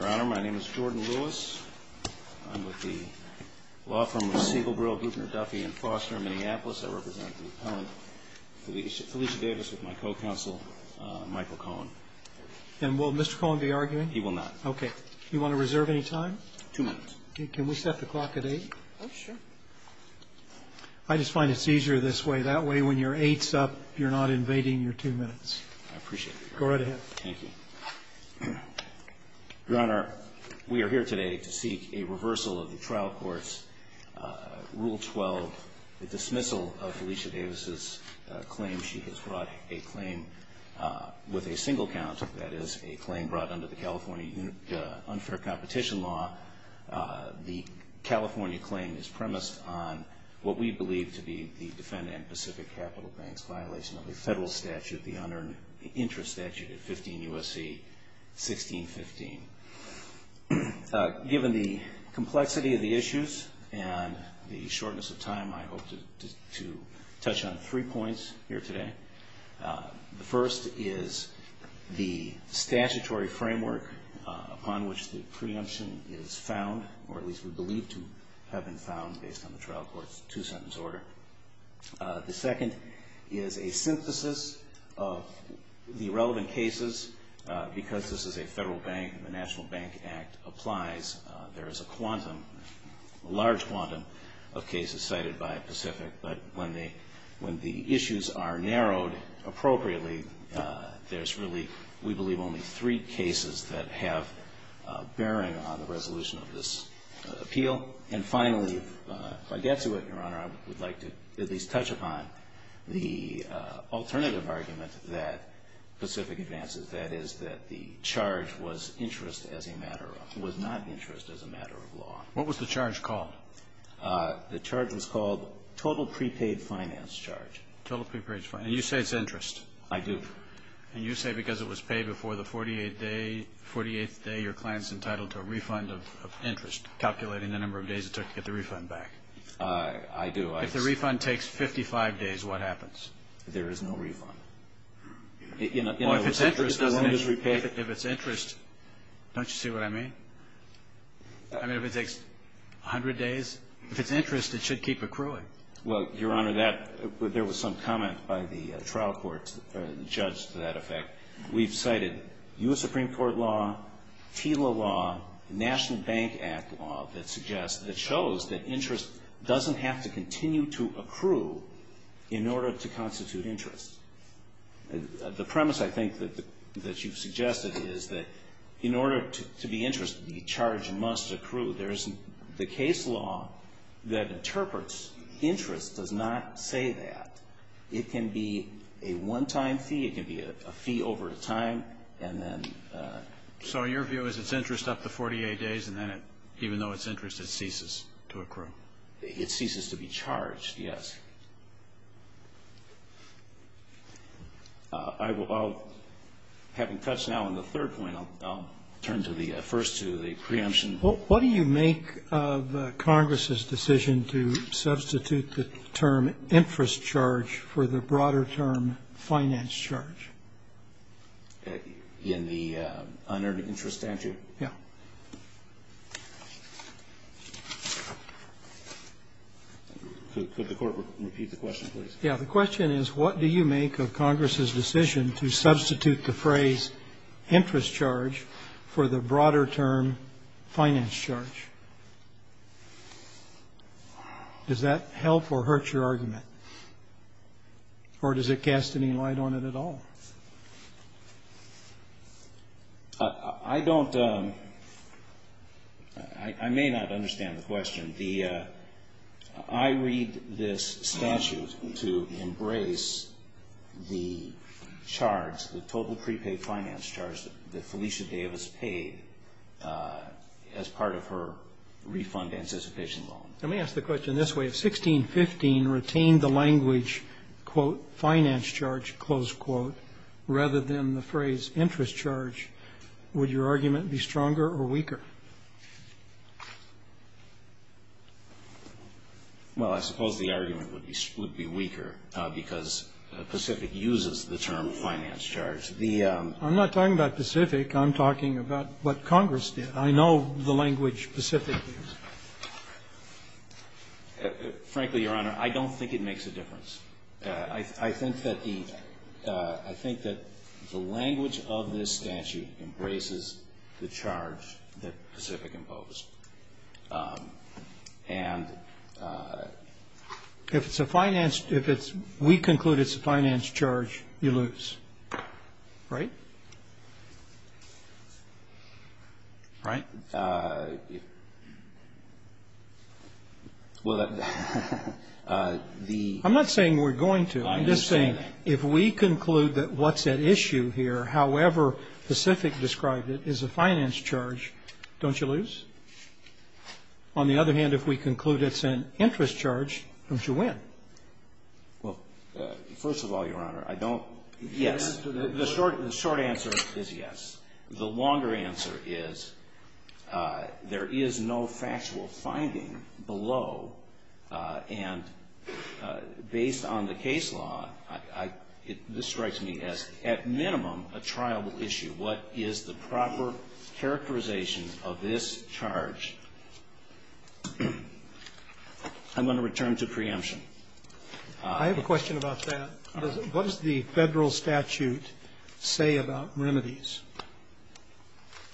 Your Honor, my name is Jordan Lewis. I'm with the law firm of Siegel, Brill, Guttner, Duffy, and Foster in Minneapolis. I represent the appellant, Felicia Davis, with my co-counsel, Michael Cohen. And will Mr. Cohen be arguing? He will not. Okay. Do you want to reserve any time? Two minutes. Can we set the clock at eight? Oh, sure. I just find it's easier this way. That way, when your eight's up, you're not invading your two minutes. I appreciate that, Your Honor. Go right ahead. Your Honor, we are here today to seek a reversal of the trial court's Rule 12, the dismissal of Felicia Davis' claim. She has brought a claim with a single count. That is, a claim brought under the California unfair competition law. The California claim is premised on what we believe to be the defendant in Pacific Capital Bank's violation of the federal statute, the unearned interest statute at 15 U.S.C. 1615. Given the complexity of the issues and the shortness of time, I hope to touch on three points here today. The first is the statutory framework upon which the preemption is found, or at least we believe to have been found based on the trial court's two-sentence order. The second is a synthesis of the relevant cases. Because this is a federal bank and the National Bank Act applies, there is a large quantum of cases cited by Pacific. But when the issues are narrowed appropriately, there's really, we believe, only three cases that have bearing on the resolution of this appeal. And finally, if I get to it, Your Honor, I would like to at least touch upon the alternative argument that Pacific advances, that is, that the charge was interest as a matter of, was not interest as a matter of law. What was the charge called? The charge was called total prepaid finance charge. Total prepaid finance. And you say it's interest. I do. And you say because it was paid before the 48th day, your client is entitled to a refund of interest, calculating the number of days it took to get the refund back. I do. If the refund takes 55 days, what happens? There is no refund. Well, if it's interest, if it's interest, don't you see what I mean? I mean, if it takes 100 days, if it's interest, it should keep accruing. Well, Your Honor, that, there was some comment by the trial court judge to that effect. We've cited U.S. Supreme Court law, TILA law, National Bank Act law that suggests, that shows that interest doesn't have to continue to accrue in order to constitute interest. The premise, I think, that you've suggested is that in order to be interest, the charge must accrue. There is, the case law that interprets interest does not say that. It can be a one-time fee, it can be a fee over time, and then. So your view is it's interest up to 48 days, and then it, even though it's interest, it ceases to accrue? It ceases to be charged, yes. I will, I'll, having touched now on the third point, I'll turn to the, first to the preemption. What do you make of Congress's decision to substitute the term interest charge for the broader term finance charge? In the unearned interest statute? Yeah. Could the Court repeat the question, please? Yeah. The question is, what do you make of Congress's decision to substitute the phrase interest charge for the broader term finance charge? Does that help or hurt your argument? Or does it cast any light on it at all? I don't, I may not understand the question. I read this statute to embrace the charge, the total prepaid finance charge that Felicia Davis paid as part of her refund anticipation loan. Let me ask the question this way. If 1615 retained the language, quote, finance charge, close quote, rather than the phrase interest charge, would your argument be stronger or weaker? Well, I suppose the argument would be weaker because Pacific uses the term finance charge. The ---- I'm not talking about Pacific. I'm talking about what Congress did. I know the language Pacific used. Frankly, Your Honor, I don't think it makes a difference. I think that the, I think that the language of this statute embraces the charge that Pacific imposed. And ---- If it's a finance, if it's, we conclude it's a finance charge, you lose. Right? Right? Well, the ---- I'm not saying we're going to. I'm just saying if we conclude that what's at issue here, however Pacific described it, is a finance charge, don't you lose? On the other hand, if we conclude it's an interest charge, don't you win? Well, first of all, Your Honor, I don't ---- Yes. The short answer is yes. The longer answer is there is no factual finding below, and based on the case law, this strikes me as, at minimum, a trial issue. What is the proper characterization of this charge? I'm going to return to preemption. I have a question about that. What does the Federal statute say about remedies?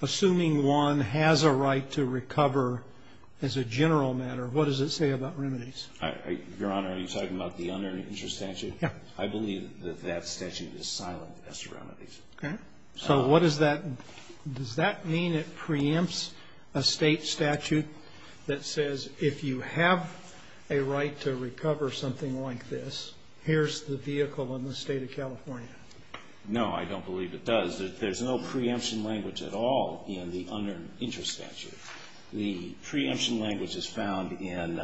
Assuming one has a right to recover as a general matter, what does it say about remedies? Your Honor, are you talking about the unearned interest statute? Yes. I believe that that statute is silent as to remedies. Okay. So what does that ---- Does that mean it preempts a State statute that says if you have a right to recover something like this, here's the vehicle in the State of California? No, I don't believe it does. There's no preemption language at all in the unearned interest statute. The preemption language is found in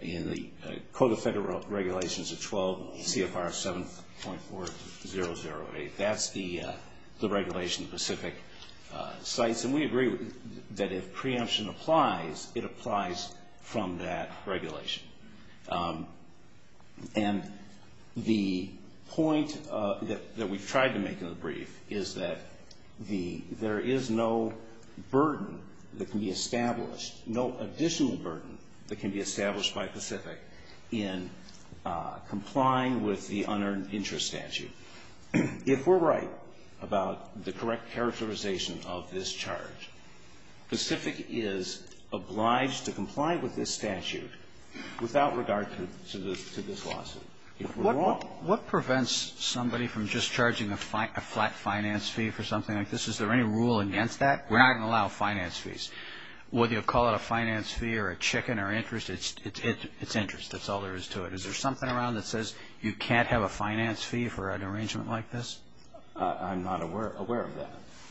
the Code of Federal Regulations 12 CFR 7.4008. That's the regulation specific sites, and we agree that if preemption applies, it applies from that regulation. And the point that we've tried to make in the brief is that the ---- there is no burden that can be established, no additional burden that can be established by Pacific in complying with the unearned interest statute. If we're right about the correct characterization of this charge, Pacific is obliged to comply with this statute without regard to this lawsuit. If we're wrong ---- What prevents somebody from just charging a flat finance fee for something like this? Is there any rule against that? We're not going to allow finance fees. Whether you call it a finance fee or a chicken or interest, it's interest. That's all there is to it. Is there something around that says you can't have a finance fee for an arrangement like this? I'm not aware of that.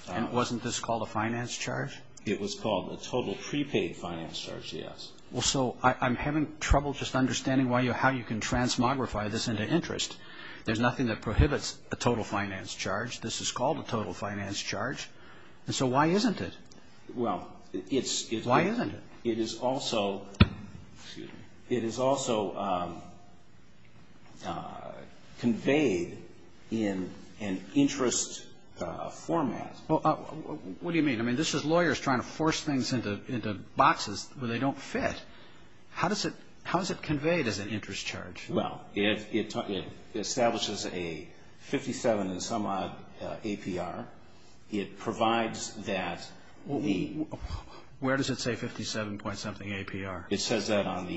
And wasn't this called a finance charge? It was called a total prepaid finance charge, yes. Well, so I'm having trouble just understanding how you can transmogrify this into interest. There's nothing that prohibits a total finance charge. This is called a total finance charge. And so why isn't it? Well, it's ---- Why isn't it? It is also ---- Excuse me. It is also conveyed in an interest format. What do you mean? I mean, this is lawyers trying to force things into boxes where they don't fit. How is it conveyed as an interest charge? Well, it establishes a 57 and some odd APR. It provides that the ---- Where does it say 57 point something APR? It says that on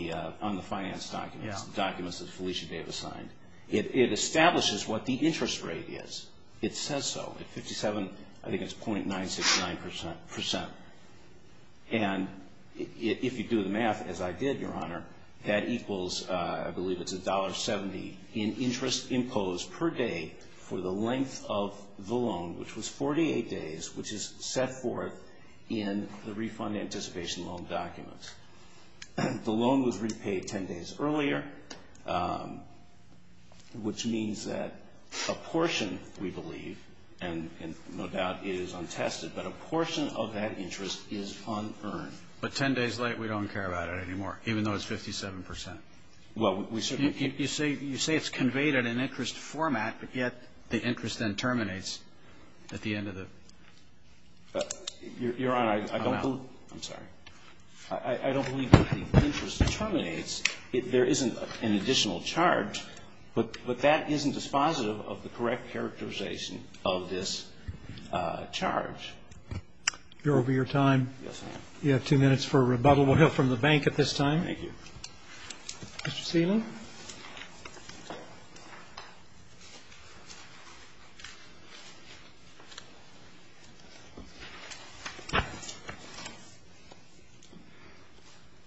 the finance documents, the documents that Felicia Davis signed. It establishes what the interest rate is. It says so. I think it's 0.969 percent. And if you do the math as I did, Your Honor, that equals, I believe it's $1.70 in interest imposed per day for the length of the loan, which was 48 days, which is set forth in the refund anticipation loan documents. The loan was repaid 10 days earlier, which means that a portion, we believe, and no doubt it is untested, but a portion of that interest is unearned. But 10 days late, we don't care about it anymore, even though it's 57 percent. Well, we certainly ---- You say it's conveyed in an interest format, but yet the interest then terminates at the end of the ---- Your Honor, I don't believe ---- I'm sorry. I don't believe that the interest terminates. There isn't an additional charge, but that isn't dispositive of the correct characterization of this charge. You're over your time. Yes, I am. You have two minutes for rebuttal. We'll hear from the bank at this time. Thank you. Mr. Seelan.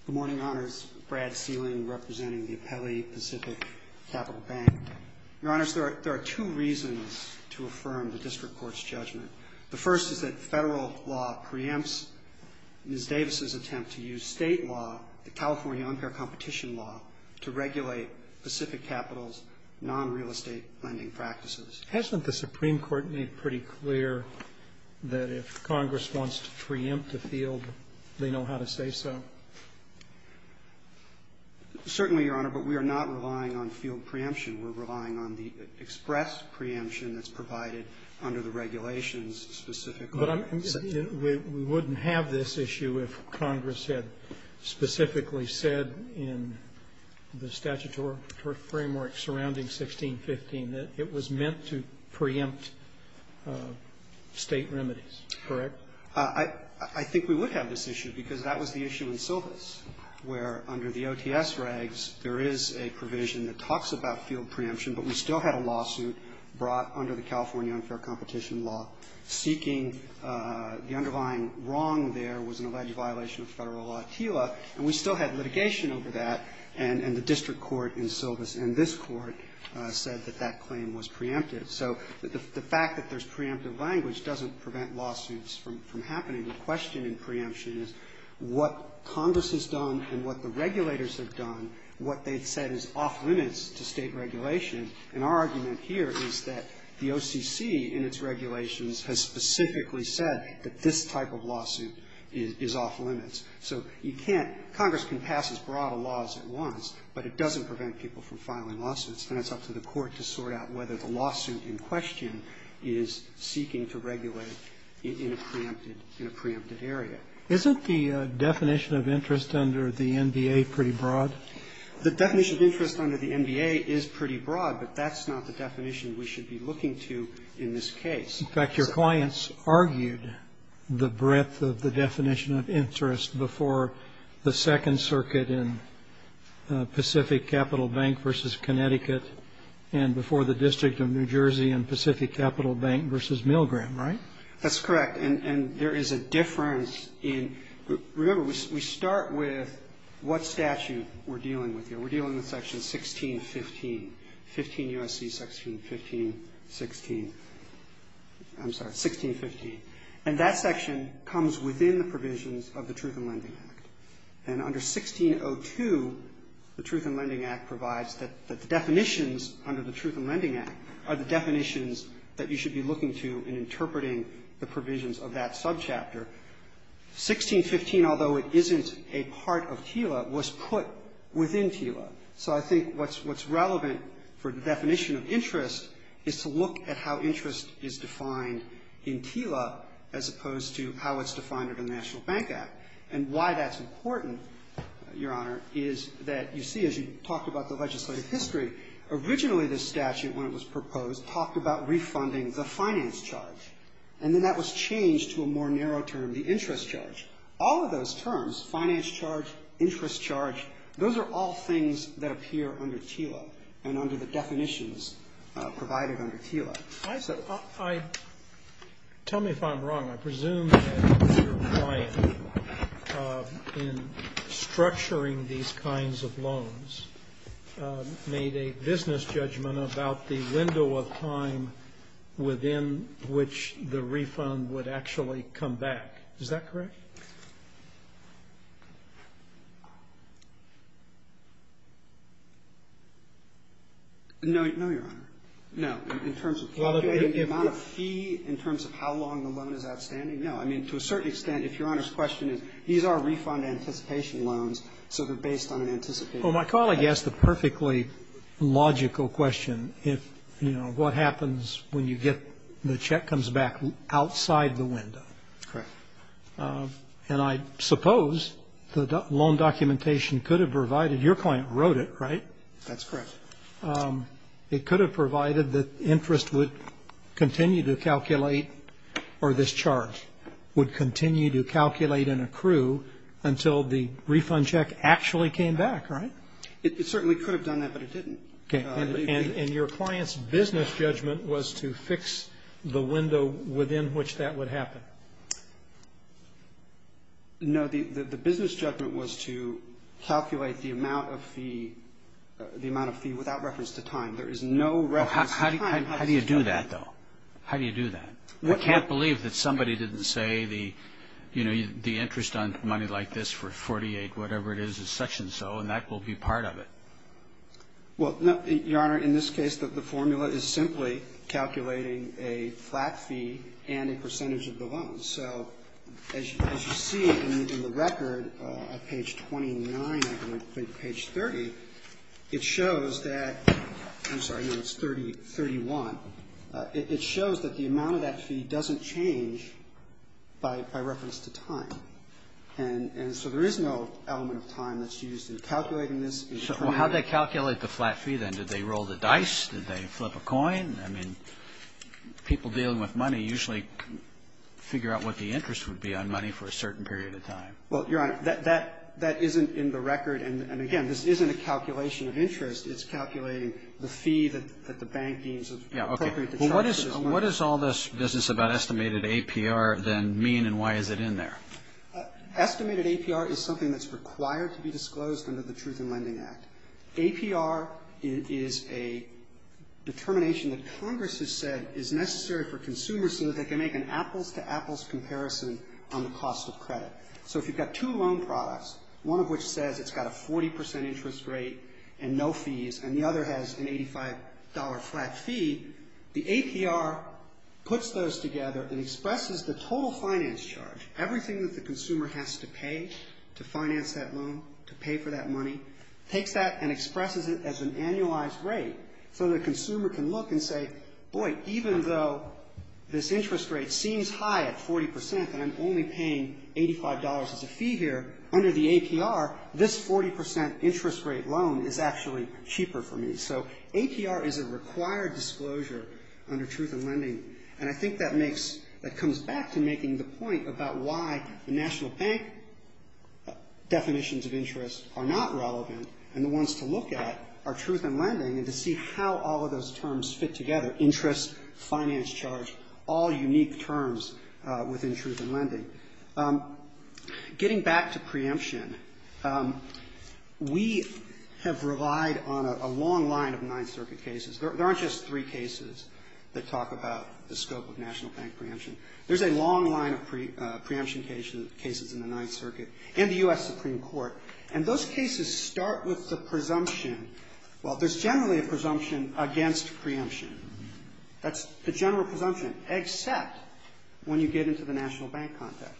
Good morning, Your Honors. Brad Seelan representing the Appellee Pacific Capital Bank. Your Honors, there are two reasons to affirm the district court's judgment. The first is that Federal law preempts Ms. Davis's attempt to use State law, the California unfair competition law, to regulate Pacific Capital's nonreal estate lending practices. Hasn't the Supreme Court made pretty clear that if Congress wants to preempt a field, they know how to say so? Certainly, Your Honor, but we are not relying on field preemption. We're relying on the express preemption that's provided under the regulations specifically. But I'm saying we wouldn't have this issue if Congress had specifically said in the statutory framework surrounding 1615 that it was meant to preempt State remedies. Correct? I think we would have this issue because that was the issue in Silvis where, under the OTS regs, there is a provision that talks about field preemption, but we still had a lawsuit brought under the California unfair competition law seeking the underlying wrong there was an alleged violation of Federal law, and we still had litigation over that, and the district court in Silvis and this court said that that claim was preempted. So the fact that there's preemptive language doesn't prevent lawsuits from happening. The question in preemption is what Congress has done and what the regulators have done, what they've said is off-limits to State regulation, and our argument here is that the OCC in its regulations has specifically said that this type of lawsuit is off-limits. So you can't – Congress can pass as broad a law as it wants, but it doesn't prevent people from filing lawsuits, and it's up to the court to sort out whether the lawsuit in question is seeking to regulate in a preempted area. Isn't the definition of interest under the NDA pretty broad? The definition of interest under the NDA is pretty broad, but that's not the definition we should be looking to in this case. In fact, your clients argued the breadth of the definition of interest before the Second Circuit in Pacific Capital Bank v. Connecticut and before the District of New Jersey in Pacific Capital Bank v. Milgram, right? That's correct. And there is a difference in – remember, we start with what statute we're dealing with here. We're dealing with Section 1615, 15 U.S.C. 1615, 16 – I'm sorry, 1615. And that section comes within the provisions of the Truth in Lending Act. And under 1602, the Truth in Lending Act provides that the definitions under the Truth in Lending Act are the definitions that you should be looking to in interpreting the provisions of that subchapter. 1615, although it isn't a part of TILA, was put within TILA. So I think what's relevant for the definition of interest is to look at how interest is defined in TILA as opposed to how it's defined under the National Bank Act. And why that's important, Your Honor, is that you see, as you talked about the legislative history, originally this statute, when it was proposed, talked about refunding the finance charge. And then that was changed to a more narrow term, the interest charge. All of those terms, finance charge, interest charge, those are all things that appear under TILA and under the definitions provided under TILA. So I – tell me if I'm wrong. I presume that Mr. Ryan, in structuring these kinds of loans, made a business judgment about the window of time within which the refund would actually come back. Is that correct? No, Your Honor. No. In terms of the amount of fee, in terms of how long the loan is outstanding? No. I mean, to a certain extent, if Your Honor's question is, these are refund anticipation loans, so they're based on an anticipated time. Well, my colleague asked a perfectly logical question. If, you know, what happens when you get – the check comes back outside the window? Correct. And I suppose the loan documentation could have provided – your client wrote it, right? That's correct. It could have provided that interest would continue to calculate, or this charge would continue to calculate and accrue until the refund check actually came back, right? It certainly could have done that, but it didn't. Okay. And your client's business judgment was to fix the window within which that would happen? No. The business judgment was to calculate the amount of fee without reference to time. There is no reference to time. How do you do that, though? How do you do that? I can't believe that somebody didn't say the, you know, the interest on money like this for 48-whatever-it-is is such-and-so, and that will be part of it. Well, Your Honor, in this case, the formula is simply calculating a flat fee and a percentage of the loan. So as you see in the record, on page 29, I believe, page 30, it shows that – I'm sorry, no, it's 31. It shows that the amount of that fee doesn't change by reference to time. And so there is no element of time that's used in calculating this. So how did they calculate the flat fee, then? Did they roll the dice? Did they flip a coin? I mean, people dealing with money usually figure out what the interest would be on money for a certain period of time. Well, Your Honor, that isn't in the record. And, again, this isn't a calculation of interest. It's calculating the fee that the bank deems appropriate to charge this loan. Yeah, okay. Well, what does all this business about estimated APR, then, mean, and why is it in there? Estimated APR is something that's required to be disclosed under the Truth in Lending Act. APR is a determination that Congress has said is necessary for consumers so that they can make an apples-to-apples comparison on the cost of credit. So if you've got two loan products, one of which says it's got a 40 percent interest rate and no fees, and the other has an $85 flat fee, the APR puts those together and expresses the total finance charge. Everything that the consumer has to pay to finance that loan, to pay for that money, takes that and expresses it as an annualized rate so the consumer can look and say, boy, even though this interest rate seems high at 40 percent and I'm only paying $85 as a fee here, under the APR, this 40 percent interest rate loan is actually cheaper for me. So APR is a required disclosure under truth in lending, and I think that makes, that comes back to making the point about why the national bank definitions of interest are not relevant and the ones to look at are truth in lending and to see how all of those terms fit together, interest, finance charge, all unique terms within truth in lending. Getting back to preemption, we have relied on a long line of Ninth Circuit cases. There aren't just three cases that talk about the scope of national bank preemption. There's a long line of preemption cases in the Ninth Circuit and the U.S. Supreme Court, and those cases start with the presumption, well, there's generally a presumption against preemption. That's the general presumption, except when you get into the national bank context.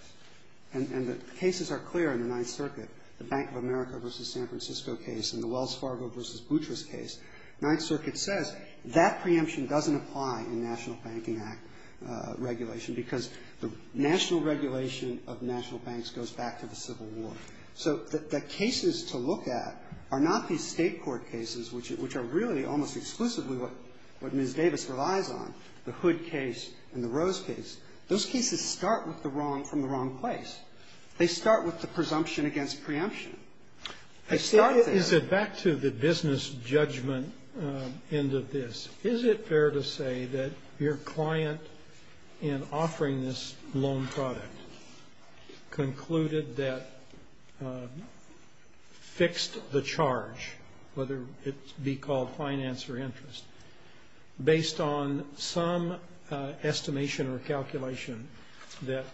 And the cases are clear in the Ninth Circuit, the Bank of America versus San Francisco case and the Wells Fargo versus Boutros case. Ninth Circuit says that preemption doesn't apply in National Banking Act regulation because the national regulation of national banks goes back to the Civil War. So the cases to look at are not these state court cases, which are really almost exclusively what Ms. Davis relies on, the Hood case and the Rose case. Those cases start with the wrong, from the wrong place. They start with the presumption against preemption. They start there. Back to the business judgment end of this. Is it fair to say that your client, in offering this loan product, concluded that fixed the charge, whether it be called finance or interest, based on some estimation or calculation that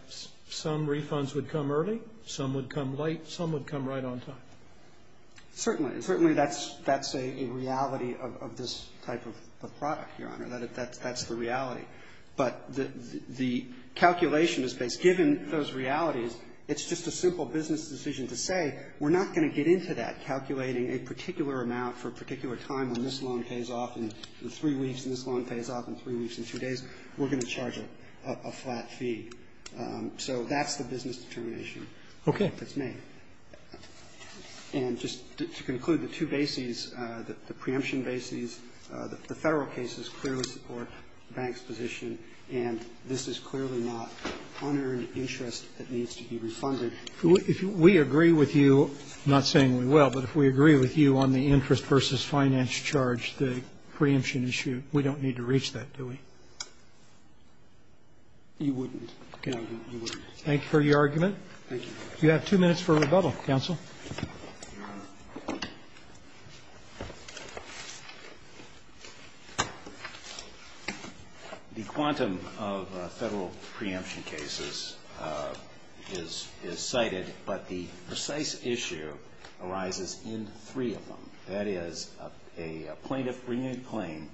some refunds would come early, some would come late, some would come right on time? Certainly. And certainly that's a reality of this type of product, Your Honor. That's the reality. But the calculation is based. Given those realities, it's just a simple business decision to say we're not going to get into that, calculating a particular amount for a particular time when this loan pays off in three weeks and this loan pays off in three weeks and two days. We're going to charge a flat fee. So that's the business determination that's made. And just to conclude, the two bases, the preemption bases, the Federal cases clearly support the bank's position, and this is clearly not unearned interest that needs to be refunded. If we agree with you, I'm not saying we will, but if we agree with you on the interest versus finance charge, the preemption issue, we don't need to reach that, do we? You wouldn't. Okay. Thank you for your argument. Thank you. You have two minutes for rebuttal, counsel. The quantum of Federal preemption cases is cited, but the precise issue arises in three of them. That is a plaintiff bringing a claim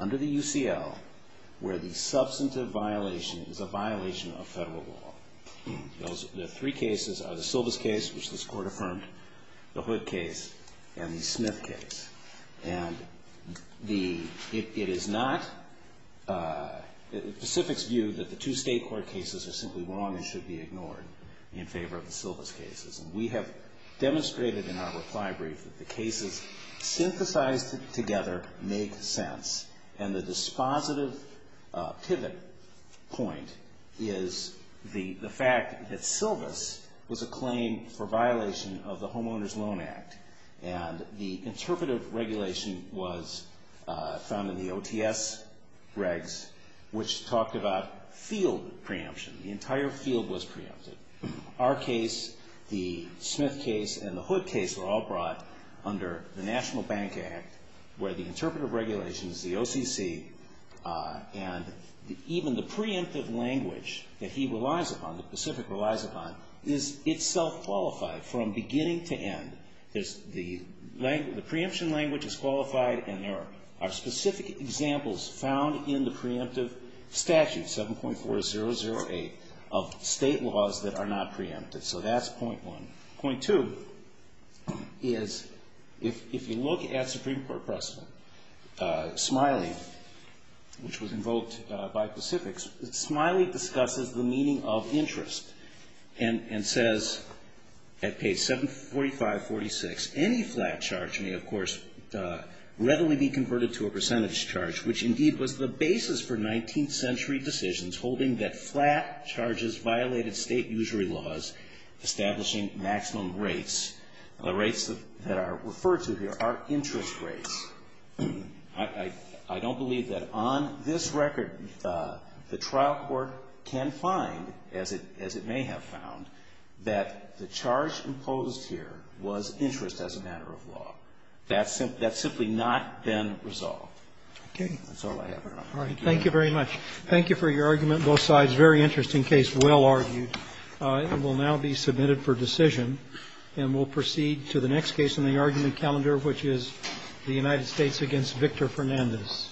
under the UCL where the substantive violation is a violation of Federal law. The three cases are the Silvis case, which this Court affirmed, the Hood case, and the Smith case. And it is not the Pacific's view that the two state court cases are simply wrong and should be ignored in favor of the Silvis cases. And we have demonstrated in our reply brief that the cases synthesized together make sense. And the dispositive pivot point is the fact that Silvis was a claim for violation of the Homeowners' Loan Act. And the interpretive regulation was found in the OTS regs, which talked about field preemption. The entire field was preempted. Our case, the Smith case, and the Hood case were all brought under the National Bank Act where the interpretive regulations, the OCC, and even the preemptive language that he relies upon, the Pacific relies upon, is itself qualified from beginning to end. The preemption language is qualified and there are specific examples found in the preemptive statute, 7.4008, of state laws that are not preempted. So that's point one. Point two is if you look at Supreme Court precedent, Smiley, which was invoked by Pacific, Smiley discusses the meaning of interest and says at page 745, 46, any flat charge may of course readily be converted to a percentage charge, which indeed was the basis for 19th century decisions holding that flat charges violated State usury laws establishing maximum rates. The rates that are referred to here are interest rates. I don't believe that on this record the trial court can find, as it may have found, that the charge imposed here was interest as a matter of law. That's simply not been resolved. That's all I have. All right. Thank you very much. Thank you for your argument. Both sides, very interesting case, well argued. It will now be submitted for decision. And we'll proceed to the next case in the argument calendar, which is the United States against Victor Fernandez.